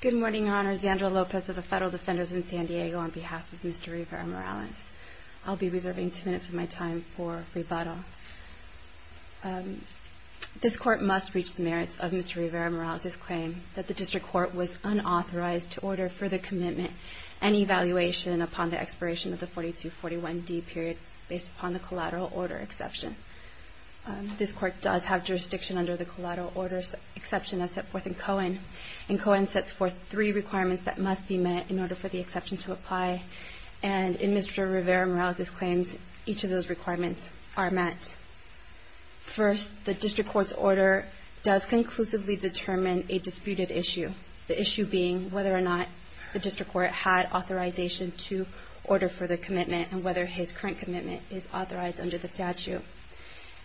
Good morning, Your Honors. Yandra Lopez of the Federal Defenders in San Diego on behalf of Mr. Rivera-Morales. I'll be reserving two minutes of my time for rebuttal. This Court must reach the merits of Mr. Rivera-Morales' claim that the District Court was unauthorized to order further commitment and evaluation upon the expiration of the 4241D period based upon the collateral order exception. This Court does have jurisdiction under the collateral order exception as set forth in Cohen. And Cohen sets forth three requirements that must be met in order for the exception to apply. And in Mr. Rivera-Morales' claims, each of those requirements are met. First, the District Court's order does conclusively determine a disputed issue, the issue being whether or not the District Court had authorization to order further commitment and whether his current commitment is authorized under the statute.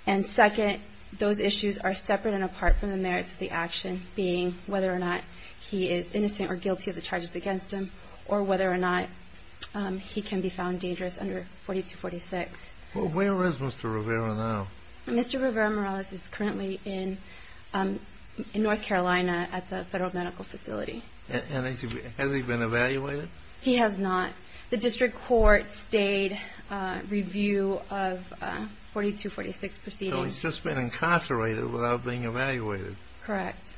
And second, those issues are separate and apart from the merits of the action, being whether or not he is innocent or guilty of the charges against him, or whether or not he can be found dangerous under 4246. JUSTICE KENNEDY Where is Mr. Rivera now? YANDRA LOPEZ Mr. Rivera-Morales is currently in North Carolina at the Federal Medical Facility. JUSTICE KENNEDY Has he been evaluated? YANDRA LOPEZ He has not. The District Court stayed review of 4246 proceedings. JUSTICE KENNEDY So he's just been incarcerated without being evaluated? YANDRA LOPEZ Correct.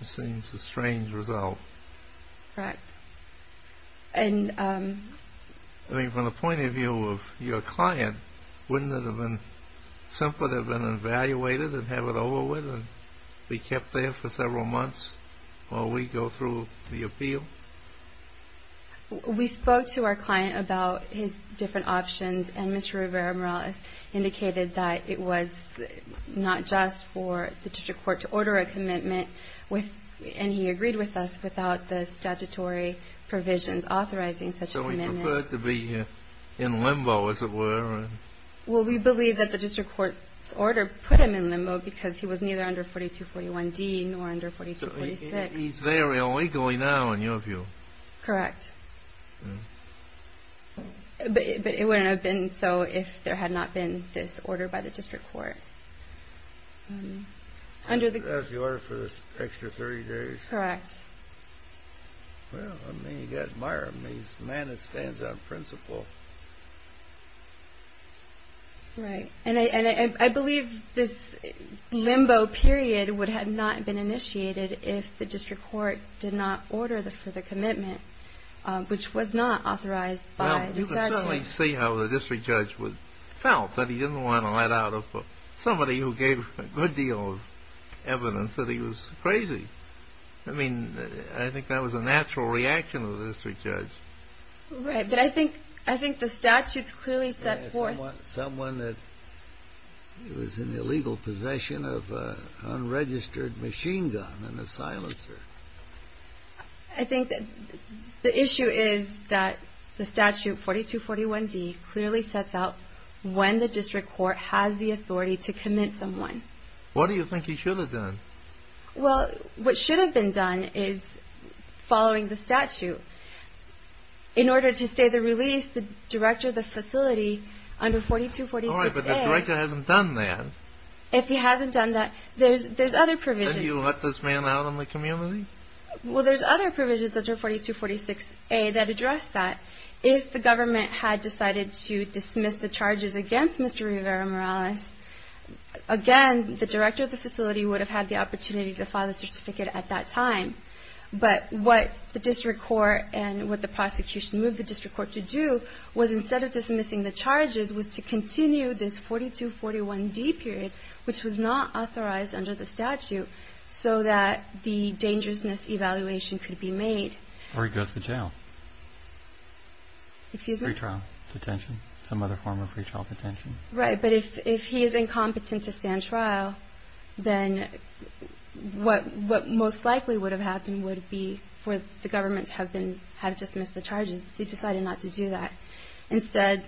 JUSTICE KENNEDY This seems a strange result. YANDRA LOPEZ Correct. And... JUSTICE KENNEDY I mean, from the point of view of your client, wouldn't it have been simpler to have been evaluated and have it over with and be kept there for several months while we go through the appeal? YANDRA LOPEZ We spoke to our client about his different options, and Mr. Rivera-Morales indicated that it was not just for the District Court to order a commitment, and he agreed with us, without the statutory provisions authorizing such a commitment. JUSTICE KENNEDY So he preferred to be in limbo, as it were? YANDRA LOPEZ Well, we believe that the District Court's order put him in limbo because he was neither under 4241D nor under 4246. JUSTICE KENNEDY So he's there illegally now, in your view? YANDRA LOPEZ Correct. But it wouldn't have been so if there had not been this order by the District Court. JUSTICE KENNEDY That's the order for this extra 30 days? YANDRA LOPEZ Correct. JUSTICE KENNEDY Well, I mean, you've got Meyer. He's a man that stands on principle. YANDRA LOPEZ Right. And I believe this limbo period would have not been initiated if the District Court did not order for the commitment, which was not authorized by the statute. JUSTICE KENNEDY Well, you can certainly see how the District Judge felt, that he didn't want to let out somebody who gave a good deal of evidence that he was crazy. I mean, I think that was a natural reaction of the District Judge. YANDRA LOPEZ Right. But I think the statute's clearly set forth... JUSTICE KENNEDY Someone that was in illegal possession of an unregistered machine gun YANDRA LOPEZ I think that the issue is that the statute, 4241D, clearly sets out when the District Court has the authority to commit someone. JUSTICE KENNEDY What do you think he should have done? YANDRA LOPEZ Well, what should have been done is, following the statute, in order to stay the release, the Director of the Facility under 4246A... JUSTICE KENNEDY All right, but the Director hasn't done that. YANDRA LOPEZ If he hasn't done that, there's other provisions... JUSTICE KENNEDY Then you let this man out in the community? YANDRA LOPEZ Well, there's other provisions under 4246A that address that. If the government had decided to dismiss the charges against Mr. Rivera Morales, again, the Director of the Facility would have had the opportunity to file a certificate at that time. But what the District Court and what the prosecution moved the District Court to do was, instead of dismissing the charges, was to continue this 4241D period, which was not authorized under the statute, so that the dangerousness evaluation could be made. JUSTICE KENNEDY Or he goes to jail. YANDRA LOPEZ Excuse me? JUSTICE KENNEDY Pre-trial detention, some other form of pre-trial detention. YANDRA LOPEZ Right, but if he is incompetent to stand trial, then what most likely would have happened would be for the government to have dismissed the charges. They decided not to do that. Instead,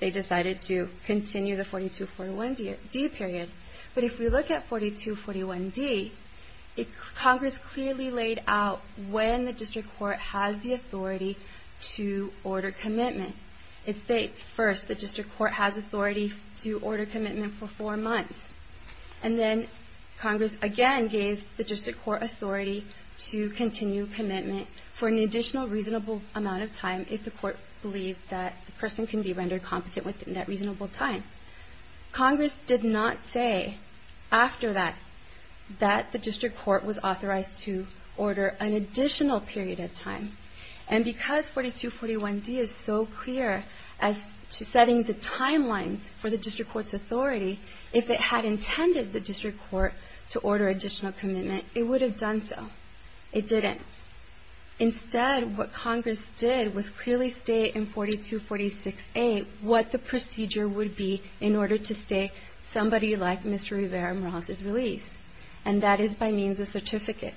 they decided to continue the 4241D period. But if we look at 4241D, Congress clearly laid out when the District Court has the authority to order commitment. It states, first, the District Court has authority to order commitment for four months. And then Congress, again, gave the District Court authority to continue commitment for an additional reasonable amount of time, if the Court believed that the person can be rendered competent within that reasonable time. Congress did not say, after that, that the District Court was authorized to order an additional period of time. And because 4241D is so clear as to setting the timelines for the District Court's authority, if it had intended the District Court to order additional commitment, it would have done so. It didn't. Instead, what Congress did was clearly state in 4246A what the procedure would be in order to stay somebody like Mr. Rivera-Morales' release. And that is by means of certificate.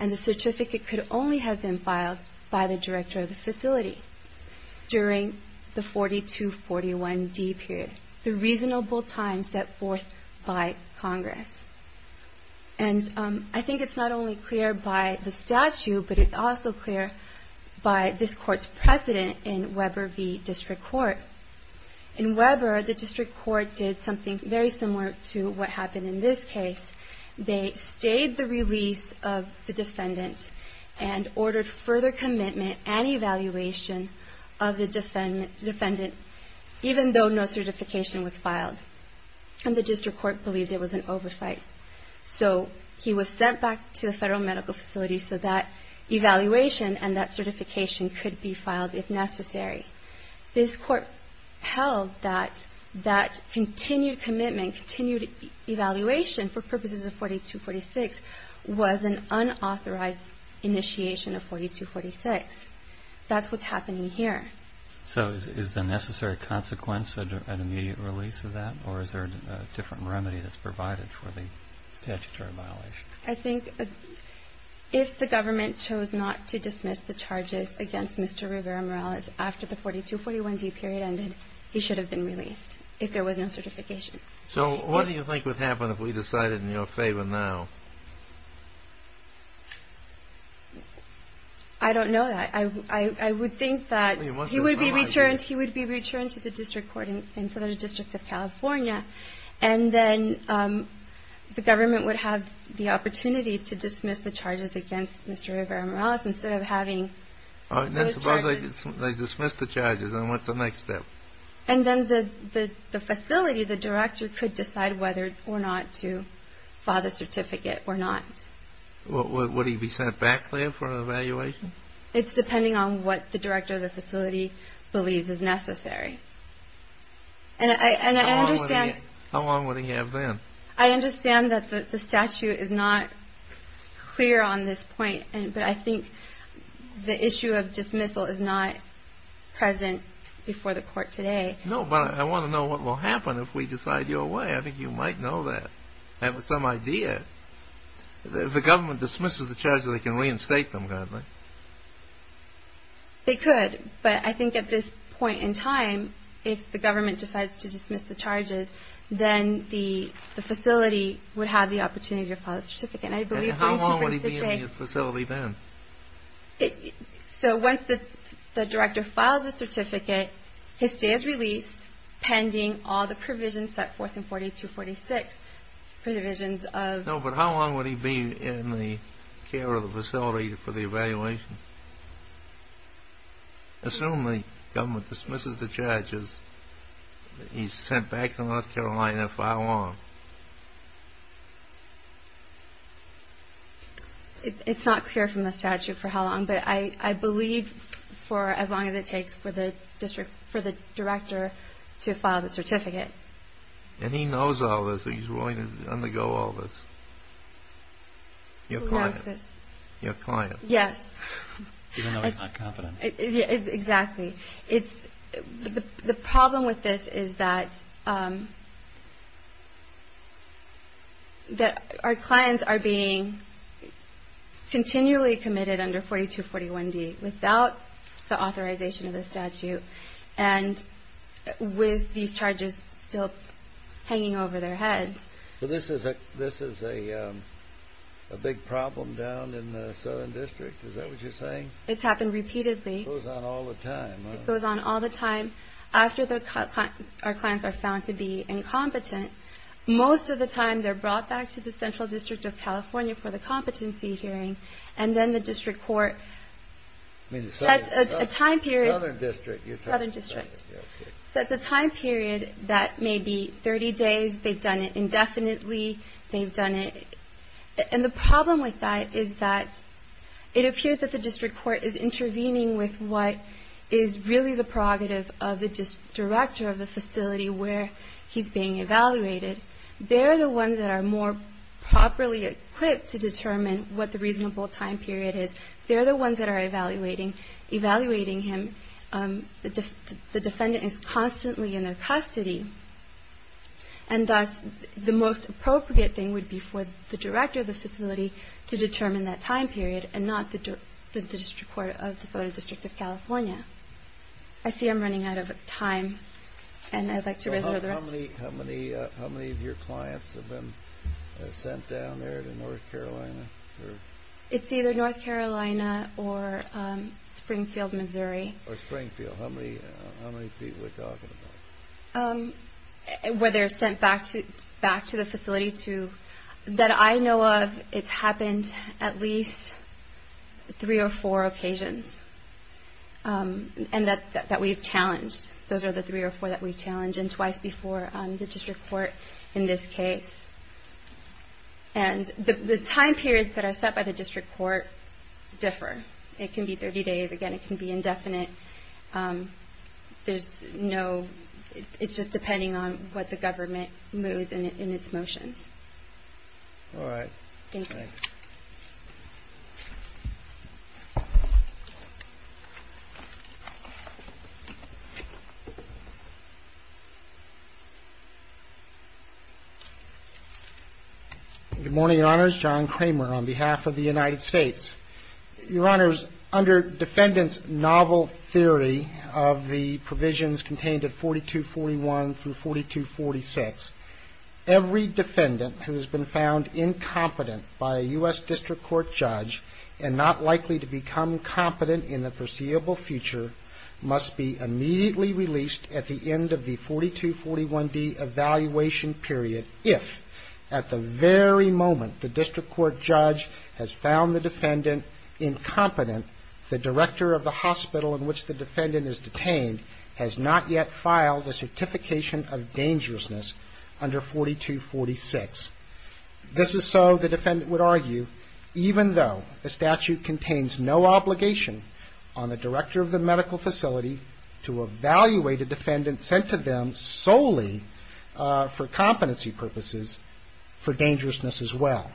And the certificate could only have been filed by the director of the facility during the 4241D period, the reasonable time set forth by Congress. And I think it's not only clear by the statute, but it's also clear by this Court's precedent in Weber v. District Court. In Weber, the District Court did something very similar to what happened in this case. They stayed the release of the defendant and ordered further commitment and evaluation of the defendant, even though no certification was filed. And the District Court believed there was an oversight. So he was sent back to the Federal Medical Facility so that evaluation and that certification could be filed if necessary. This Court held that that continued commitment, continued evaluation for purposes of 4246 was an unauthorized initiation of 4246. That's what's happening here. So is the necessary consequence an immediate release of that? Or is there a different remedy that's provided for the statutory violation? I think if the government chose not to dismiss the charges against Mr. Rivera-Morales after the 4241D period ended, he should have been released if there was no certification. So what do you think would happen if we decided in your favor now? I don't know that. I would think that he would be returned to the District Court in Southern District of California. And then the government would have the opportunity to dismiss the charges against Mr. Rivera-Morales instead of having those charges. Suppose they dismiss the charges, then what's the next step? And then the facility, the director, could decide whether or not to file the certificate or not. Would he be sent back there for an evaluation? It's depending on what the director of the facility believes is necessary. How long would he have then? I understand that the statute is not clear on this point, but I think the issue of dismissal is not present before the Court today. No, but I want to know what will happen if we decide your way. I think you might know that. Have some idea. If the government dismisses the charges, they can reinstate them, can't they? They could, but I think at this point in time, if the government decides to dismiss the charges, then the facility would have the opportunity to file the certificate. And how long would he be in the facility then? So once the director files the certificate, his stay is released pending all the provisions set forth in 4246, provisions of... No, but how long would he be in the care of the facility for the evaluation? Assume the government dismisses the charges, he's sent back to North Carolina to file on. It's not clear from the statute for how long, but I believe for as long as it takes for the director to file the certificate. And he knows all this? He's willing to undergo all this? Who knows this? Your client. Yes. Even though he's not confident. Exactly. The problem with this is that our clients are being continually committed under 4241D without the authorization of the statute, and with these charges still hanging over their heads. This is a big problem down in the Southern District, is that what you're saying? It's happened repeatedly. It goes on all the time. It goes on all the time. After our clients are found to be incompetent, most of the time they're brought back to the Central District of California for the competency hearing, and then the District Court sets a time period. Southern District. Southern District. Okay. Sets a time period that may be 30 days. They've done it indefinitely. They've done it. And the problem with that is that it appears that the District Court is intervening with what is really the prerogative of the director of the facility where he's being evaluated. They're the ones that are more properly equipped to determine what the reasonable time period is. They're the ones that are evaluating him. The defendant is constantly in their custody, and thus the most appropriate thing would be for the director of the facility to determine that time period, and not the District Court of the Southern District of California. I see I'm running out of time, and I'd like to reserve the rest. How many of your clients have been sent down there to North Carolina? It's either North Carolina or Springfield, Missouri. Or Springfield. How many people are we talking about? Where they're sent back to the facility. That I know of, it's happened at least three or four occasions, and that we've challenged. Those are the three or four that we've challenged, and twice before the District Court in this case. And the time periods that are set by the District Court differ. It can be 30 days. Again, it can be indefinite. It's just depending on what the government moves in its motions. All right. Thank you. Good morning, Your Honors. John Kramer on behalf of the United States. Your Honors, under defendant's novel theory of the provisions contained at 4241 through 4246, every defendant who has been found incompetent by a U.S. District Court judge and not likely to become competent in the foreseeable future must be immediately released at the end of the 4241D evaluation period if at the very moment the District Court judge has found the defendant incompetent, the director of the hospital in which the defendant is detained has not yet filed a certification of dangerousness under 4246. This is so, the defendant would argue, even though the statute contains no obligation on the director of the medical facility to evaluate a defendant sent to them solely for competency purposes for dangerousness as well,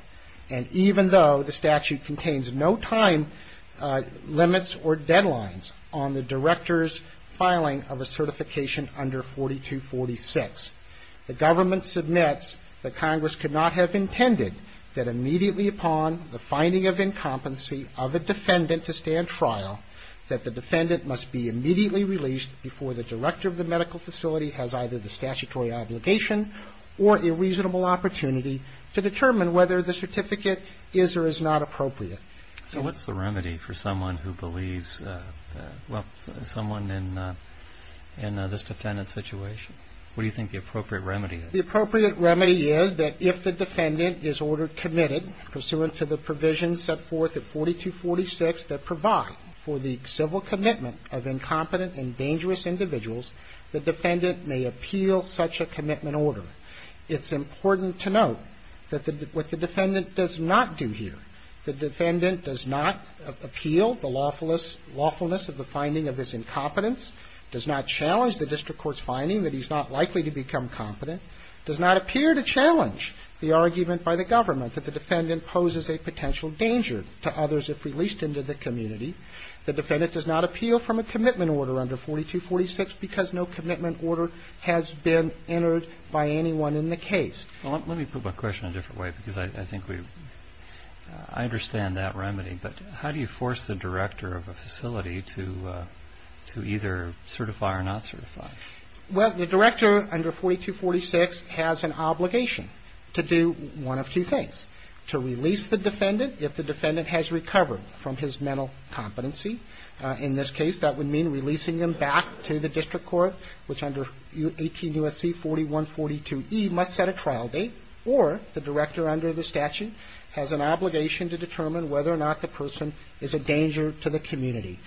and even though the statute contains no time limits or deadlines on the director's filing of a certification under 4246, the government submits that Congress could not have intended that immediately upon the finding of incompetency of a defendant to stand trial that the defendant must be immediately released before the director of the medical facility has either the statutory obligation or a reasonable opportunity to determine whether the certificate is or is not appropriate. So what's the remedy for someone who believes, well, someone in this defendant's situation? What do you think the appropriate remedy is? The appropriate remedy is that if the defendant is ordered committed pursuant to the provisions set forth at 4246 that provide for the civil commitment of incompetent and dangerous individuals, the defendant may appeal such a commitment order. It's important to note that what the defendant does not do here, the defendant does not appeal the lawfulness of the finding of his incompetence, does not challenge the District Court's finding that he's not likely to become competent, does not appear to challenge the argument by the government that the defendant poses a potential danger to others if released into the community. The defendant does not appeal from a commitment order under 4246 because no commitment order has been entered by anyone in the case. Well, let me put my question a different way because I think I understand that remedy, but how do you force the director of a facility to either certify or not certify? Well, the director under 4246 has an obligation to do one of two things. To release the defendant if the defendant has recovered from his mental competency. In this case, that would mean releasing him back to the District Court, which under 18 U.S.C. 4142E must set a trial date or the director under the statute has an obligation to determine whether or not the person is a danger to the community.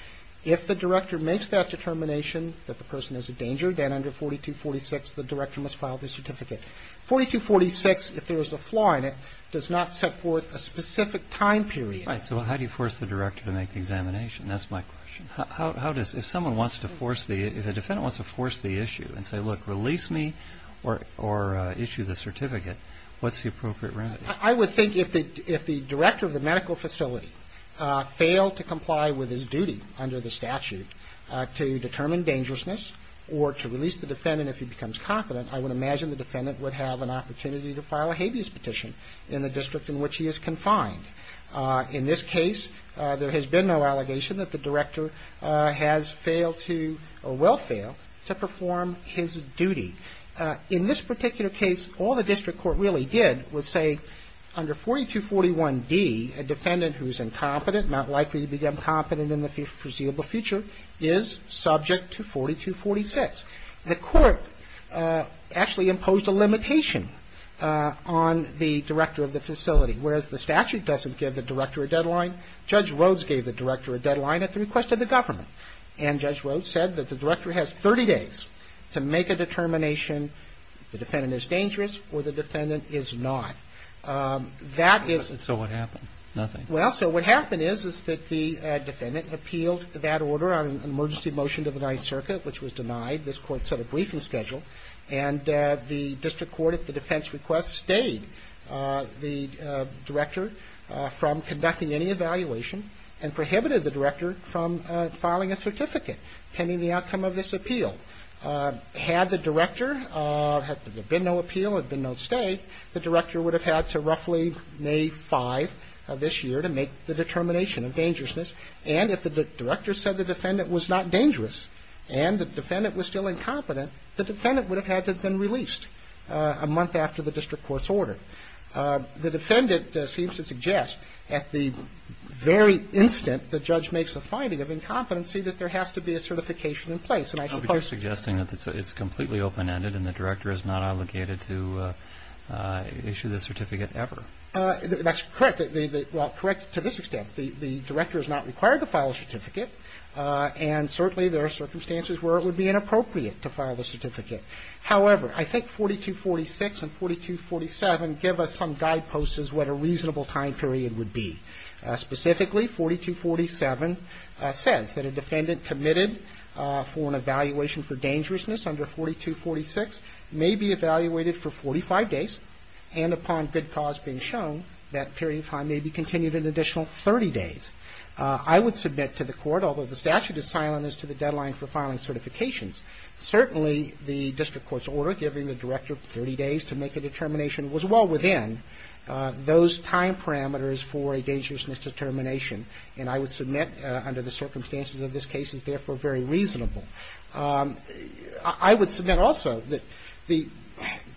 If the director makes that determination that the person is a danger, then under 4246 the director must file the certificate. 4246, if there is a flaw in it, does not set forth a specific time period. Right, so how do you force the director to make the examination? That's my question. If a defendant wants to force the issue and say, look, release me or issue the certificate, what's the appropriate remedy? I would think if the director of the medical facility failed to comply with his duty under the statute to determine dangerousness or to release the defendant if he becomes competent, I would imagine the defendant would have an opportunity to file a habeas petition in the district in which he is confined. In this case, there has been no allegation that the director has failed to, or will fail, to perform his duty. In this particular case, all the District Court really did was say, under 4241D, a defendant who is incompetent, not likely to become competent in the foreseeable future, is subject to 4246. The Court actually imposed a limitation on the director of the facility. Whereas the statute doesn't give the director a deadline, Judge Rhoades gave the director a deadline at the request of the government. And Judge Rhoades said that the director has 30 days to make a determination if the defendant is dangerous or the defendant is not. So what happened? Nothing. Well, so what happened is that the defendant appealed that order on an emergency motion to the Ninth Circuit, which was denied. This Court set a briefing schedule, and the District Court, at the defense request, stayed the director from conducting any evaluation and prohibited the director from filing a certificate pending the outcome of this appeal. Had the director, had there been no appeal, had there been no stay, the director would have had to roughly May 5th of this year to make the determination of dangerousness. And if the director said the defendant was not dangerous and the defendant was still incompetent, the defendant would have had to have been released a month after the District Court's order. The defendant seems to suggest at the very instant the judge makes a finding of incompetency that there has to be a certification in place. And I suppose... Are you suggesting that it's completely open-ended and the director is not obligated to issue the certificate ever? That's correct. Well, correct to this extent. The director is not required to file a certificate, and certainly there are circumstances where it would be inappropriate to file the certificate. However, I think 4246 and 4247 give us some guideposts as to what a reasonable time period would be. Specifically, 4247 says that a defendant committed for an evaluation for dangerousness under 4246 may be evaluated for 45 days, and upon good cause being shown, that period of time may be continued an additional 30 days. I would submit to the Court, although the statute is silent as to the deadline for filing certifications, certainly the District Court's order giving the director 30 days to make a determination was well within those time parameters for a dangerousness determination. And I would submit, under the circumstances of this case, it's therefore very reasonable. I would submit also that the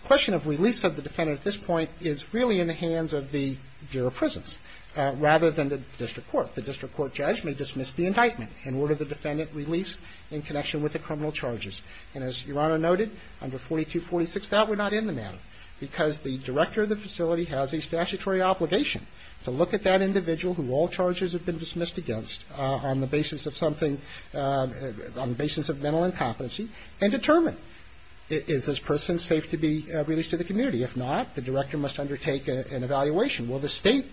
question of release of the defendant at this point is really in the hands of the Bureau of Prisons rather than the District Court. The District Court judge may dismiss the indictment and order the defendant released in connection with the criminal charges. And as Your Honor noted, under 4246, that would not end the matter because the director of the facility has a statutory obligation to look at that individual who all charges have been dismissed against on the basis of something on the basis of mental incompetency and determine is this person safe to be released to the community. If not, the director must undertake an evaluation. Will the state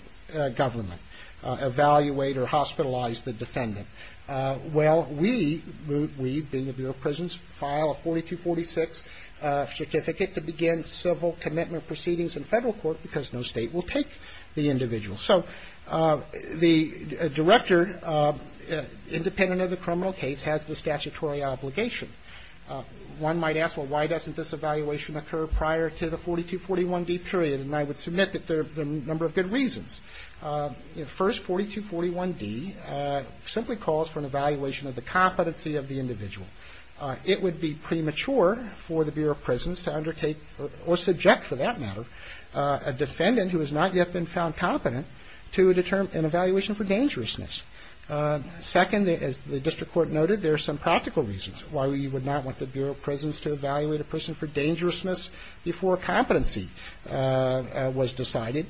government evaluate or hospitalize the defendant? Well, we, Root Weed being the Bureau of Prisons, file a 4246 certificate to begin civil commitment proceedings in federal court because no state will take the individual. So, the director, independent of the criminal case, has the statutory obligation. One might ask, well, why doesn't this evaluation occur prior to the 4241D period? And I would submit that there are a number of good reasons. First, 4241D simply calls for an evaluation of the competency of the individual. It would be premature for the Bureau of Prisons to undertake or subject, for that matter, a defendant who has not yet been found competent to determine an evaluation for dangerousness. Second, as the district court noted, there are some practical reasons why we would not want the Bureau of Prisons to evaluate a person for dangerousness before competency was decided,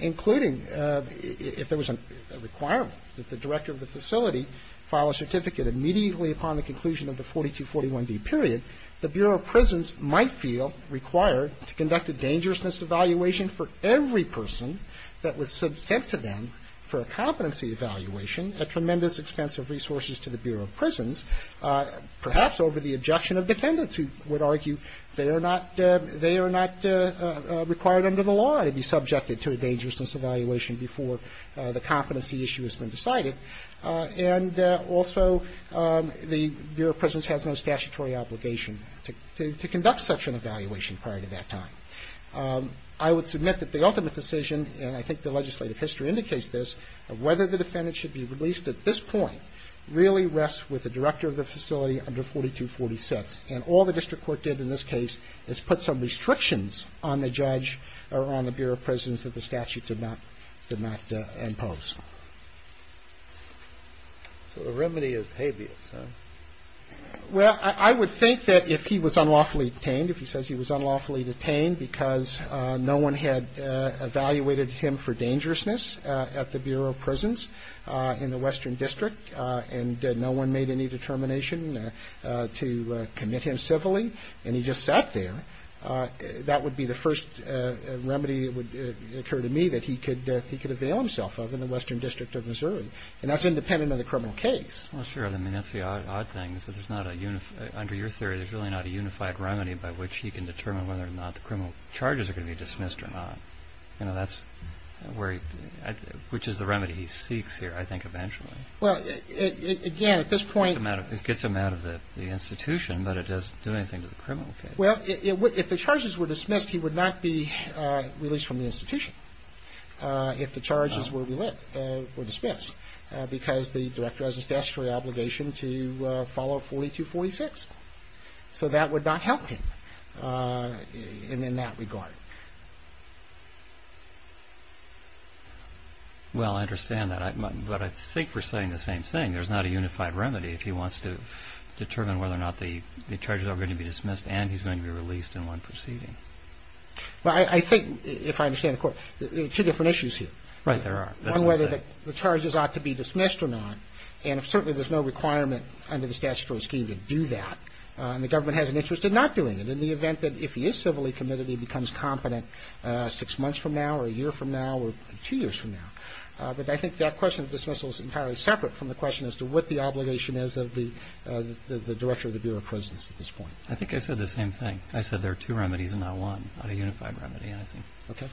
including if there was a requirement that the director of the facility file a certificate immediately upon the conclusion of the 4241D period, the Bureau of Prisons might feel required to conduct a dangerousness evaluation for every person that was subsent to them for a competency evaluation at tremendous expense of resources to the Bureau of Prisons, perhaps over the objection of defendants who would argue they are not required under the law to be subjected to a dangerousness evaluation before the competency issue has been decided, and also the Bureau of Prisons has no statutory obligation to conduct such an evaluation prior to that time. I would submit that the ultimate decision, and I think the legislative history indicates this, of whether the defendant should be released at this point really rests with the director of the facility under 4246, and all the district court did in this case is put some restrictions on the judge or on the Bureau of Prisons that the statute did not impose. So the remedy is habeas, huh? Well, I would think that if he was unlawfully detained, if he says he was unlawfully detained because no one had evaluated him for dangerousness at the Bureau of Prisons in the Western District and no one made any determination to conduct an investigation to admit him civilly and he just sat there, that would be the first remedy that would occur to me that he could avail himself of in the Western District of Missouri. And that's independent of the criminal case. Well, sure. I mean, that's the odd thing is that under your theory there's really not a unified opinion on whether or not that's where he, which is the remedy he seeks here I think eventually. Well, again, at this point It gets him out of the institution but it doesn't do anything to the criminal case. Well, if the charges were dismissed he would not be released from the institution if the charges were dismissed because the are not dismissed in that regard. Well, I understand that. But I think we're saying the same thing. There's not a unified remedy if he wants to determine whether or not the charges are going to be dismissed and he's going to be released in one proceeding. Well, I think if I understand correctly there are two different issues here. Right, there are. On whether the charges ought to be dismissed or not and certainly there's no requirement under the statutory scheme to do that and the government has an interest in not doing it in the event that if he is civilly committed he becomes competent six months from now or a year from now or two years from now. But I think that question of dismissal is entirely separate from the question as to what the obligation is of the Director of the Bureau of Prisons at this point. I think I said the same thing. I said there are two remedies and not one. Not a unified remedy I think.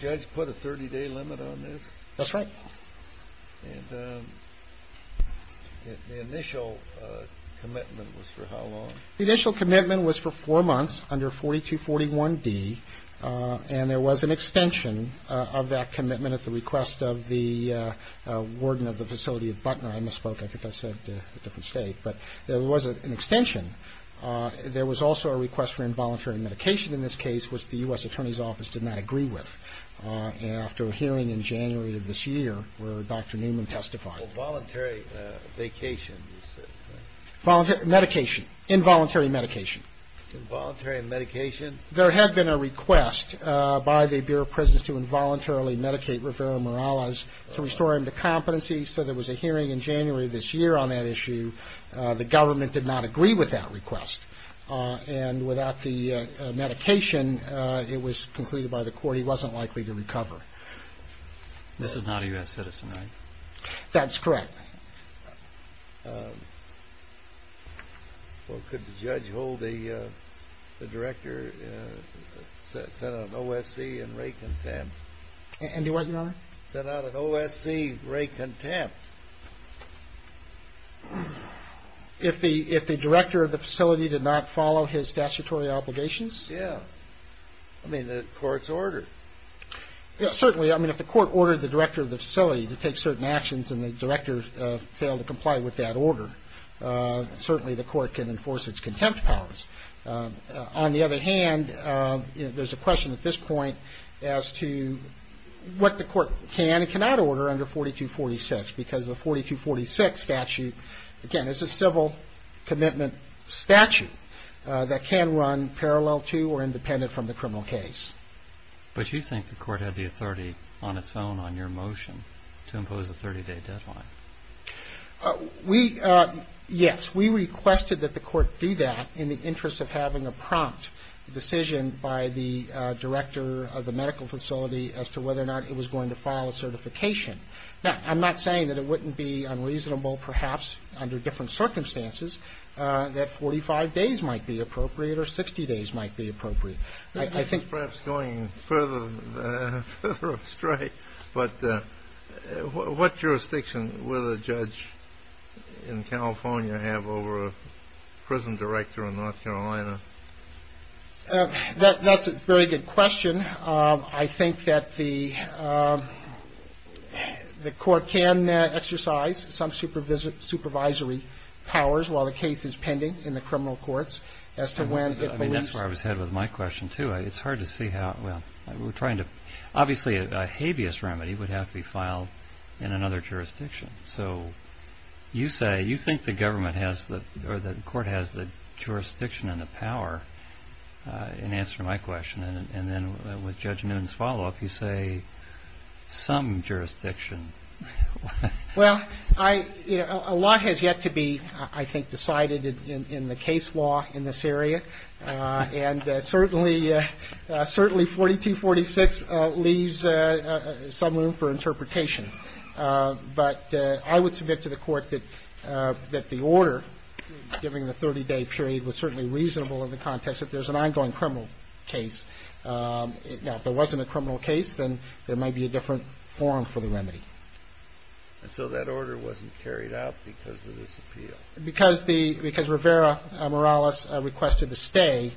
Judge put a 30 day limit on this? That's right. And the initial commitment was for how long? The initial commitment was for four months under 4241D and there was an extension of that commitment at the request of the Warden of the Facility of Butner. I misspoke. I think I said a different state. But there was an extension. There was also a request for involuntary medication in this case which the U.S. Attorney's Office did not agree with. And after a hearing in January of this year where Dr. Newman testified. Voluntary vacation. Voluntary medication. Involuntary medication. Involuntary medication? There had been a request by the Bureau of Prisons to involuntarily medicate Rivera Morales to restore him to competency so there was a hearing in January of this year on that issue. The government did not agree with that request. And without the court's order. Well could the judge hold the director sent out an OSC and rate contempt? Send out an OSC rate contempt. If the director of the facility did not follow his statutory obligations? Yeah. I mean the court's ordered. Certainly. I mean if the court ordered the director of the facility to take certain actions and the director failed to comply with that order certainly the court can enforce its contempt powers. On the other hand there's a question at this point as to what the court can and cannot order under 4246 because the 4246 statute again is a civil commitment statute that can run parallel to or independent from the criminal case. But you think the court had the authority on its own on your motion to impose a 30 day deadline? We yes we requested that the court do that in the interest of having a prompt decision by the director of the medical facility as to whether or not it was going to file a certification. I'm not saying it wouldn't be unreasonable perhaps under different circumstances that 45 days might be appropriate or 60 days might be appropriate. Perhaps going further astray but what jurisdiction will the court exercise some supervisory powers while the case is pending in the criminal courts? That's where I was headed with my question too. Obviously a habeas remedy would have to be filed in another jurisdiction. So you say you think the court has the jurisdiction and the power in answering my question and then with Judge Noon's follow-up you say some jurisdiction. Well a lot has yet to be I think decided in the case law in this area and certainly 42-46 leaves some room for a 30-day period was certainly reasonable in the context that there's an ongoing criminal case. Now if there wasn't a criminal case then there might be a different form for the remedy. So that order wasn't carried out because of this appeal? Because Rivera Morales requested the stay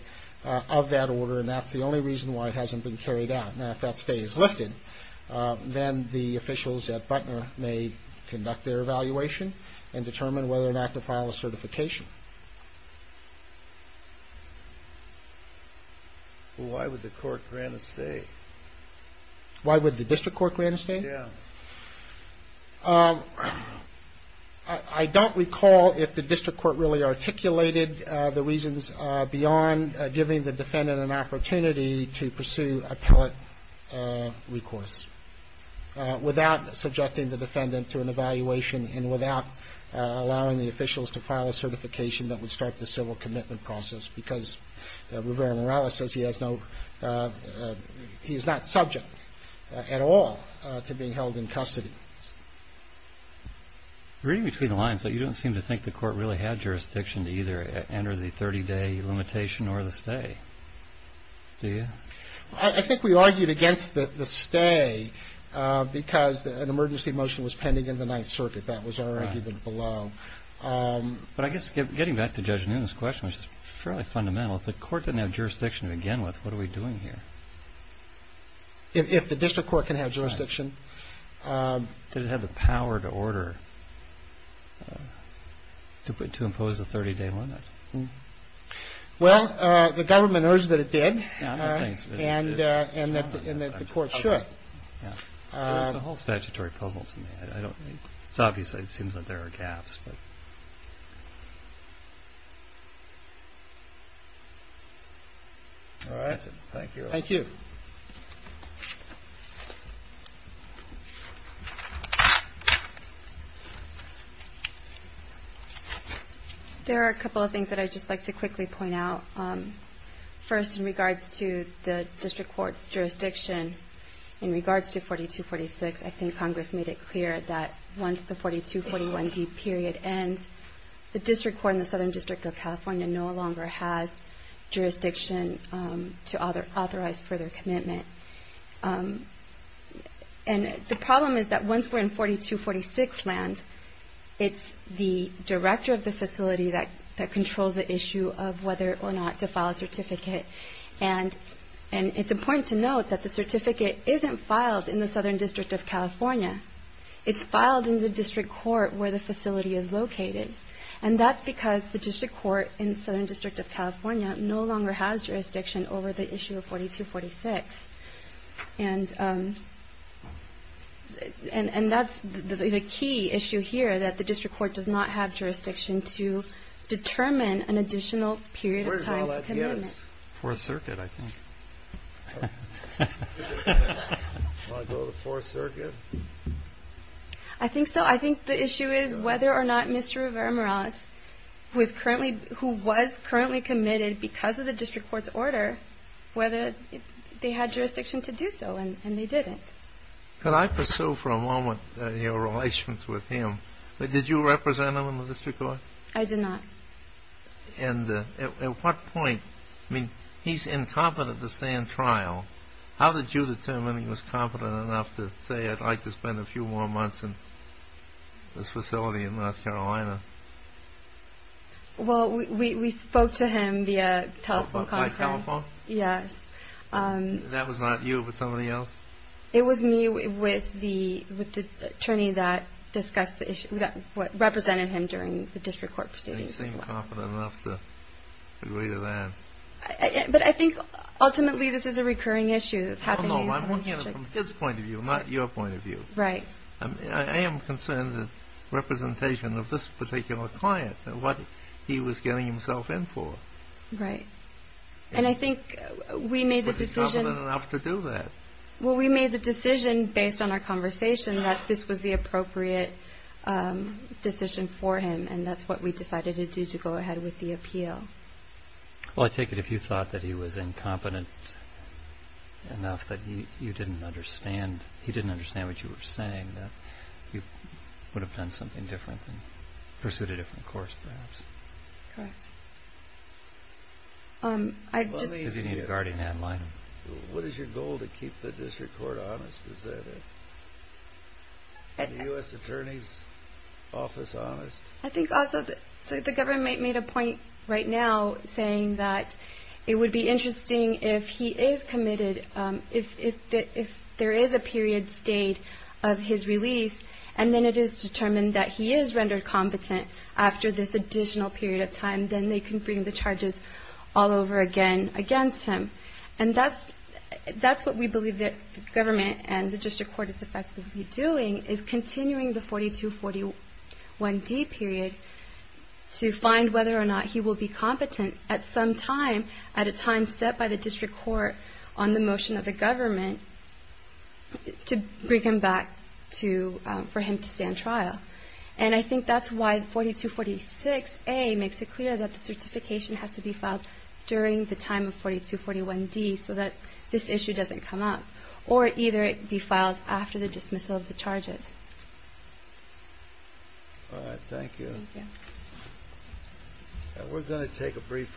of that order and that's the only reason why it hasn't been carried out. Now if that stay is lifted then the officials at Butner may conduct their evaluation and determine whether or not to file a certification. Why would the court grant a stay? Why would the district court grant a stay? Yeah. I don't recall if the district granted a stay. The reason is beyond giving the defendant an opportunity to pursue appellate recourse without subjecting the defendant to an evaluation and without allowing the officials to file a certification that would start the civil commitment process because Rivera-Morales says he has no he is not subject at all to being held in custody. Reading between the lines you don't seem to think the court really had jurisdiction to either enter the 30 day limitation or the stay. Do you? I think we argued against the stay because an emergency motion was pending in the 9th circuit. That was our argument below. But I guess getting back to Judge Noonan's question which is fairly fundamental if the court didn't have jurisdiction to begin with what are we doing here? If the district court can have jurisdiction did it have the power to order to impose the 30 limitation? That's a very puzzled to me. It's obvious it seems there are gaps. Thank you. Thank you. There are a couple of things I would like to quickly point out. First in regards to the district court's jurisdiction in regards to 4246 I think Congress did not have jurisdiction to authorize further commitment. The problem is once we are in 4246 land it's the director of the facility that controls the issue of whether or not to file a certificate. It's important to note the certificate isn't filed in the Southern District of California. It's filed in the district court where the facility is located. And that's because the district court in the Southern District of California no longer has jurisdiction over the issue of 4246. And that's the key issue here that the district court does not have jurisdiction to determine an additional period of time. I think so. I think the issue is whether or not Mr. Rivera-Morales who was currently committed because of the district court's order, whether they had jurisdiction to do so and they didn't. Can I pursue for a moment your relationship with him? Did you represent him in the district court? I did not. And at what point, I mean, he's incompetent to stand trial. How did you determine he was competent enough to say I'd like to spend a few more months in this facility in North Carolina? Well, we spoke to him via telephone conference. By telephone? Yes. And that was not you but somebody else? It was me with the attorney that represented him during the district court proceedings as well. And you seemed competent enough to agree to that. But I think ultimately this is a recurring issue that's happening in some districts. No, no, I'm looking at it from his point of view, not your point of view. Right. I am concerned that representation of this particular client, what he was getting himself in for. Right. And I think we made the decision... Was he competent enough to do that? Well, we made the decision based on our conversation that this was the appropriate decision for him and that's what we decided to go ahead with the appeal. Well, I take it if you thought that he was incompetent enough that you didn't understand, he didn't understand what you were saying, that you would have done something different and pursued a different course perhaps. Correct. Because you need a guardian ad litem. What is your goal to keep the district court honest? Is the U.S. attorney's office honest? I think also the government made a point right now saying that it would be interesting if he is committed, if there is a period stayed of his release and then it is determined that he is rendered competent after this additional period of time, then they can bring the charges all over again against him. And that's what we as the government and the district court is effectively doing is continuing the 4241D period to find whether or not he will be competent at some time at a time set by the district court on the motion of the government to bring him back for him to stand trial. And I think that's why 4246A makes it clear that the certification has to be filed during the time of 4241D so that this issue doesn't come up or either be filed after the dismissal of the charges. All right. Thank you. Thank you. And we're going to take a brief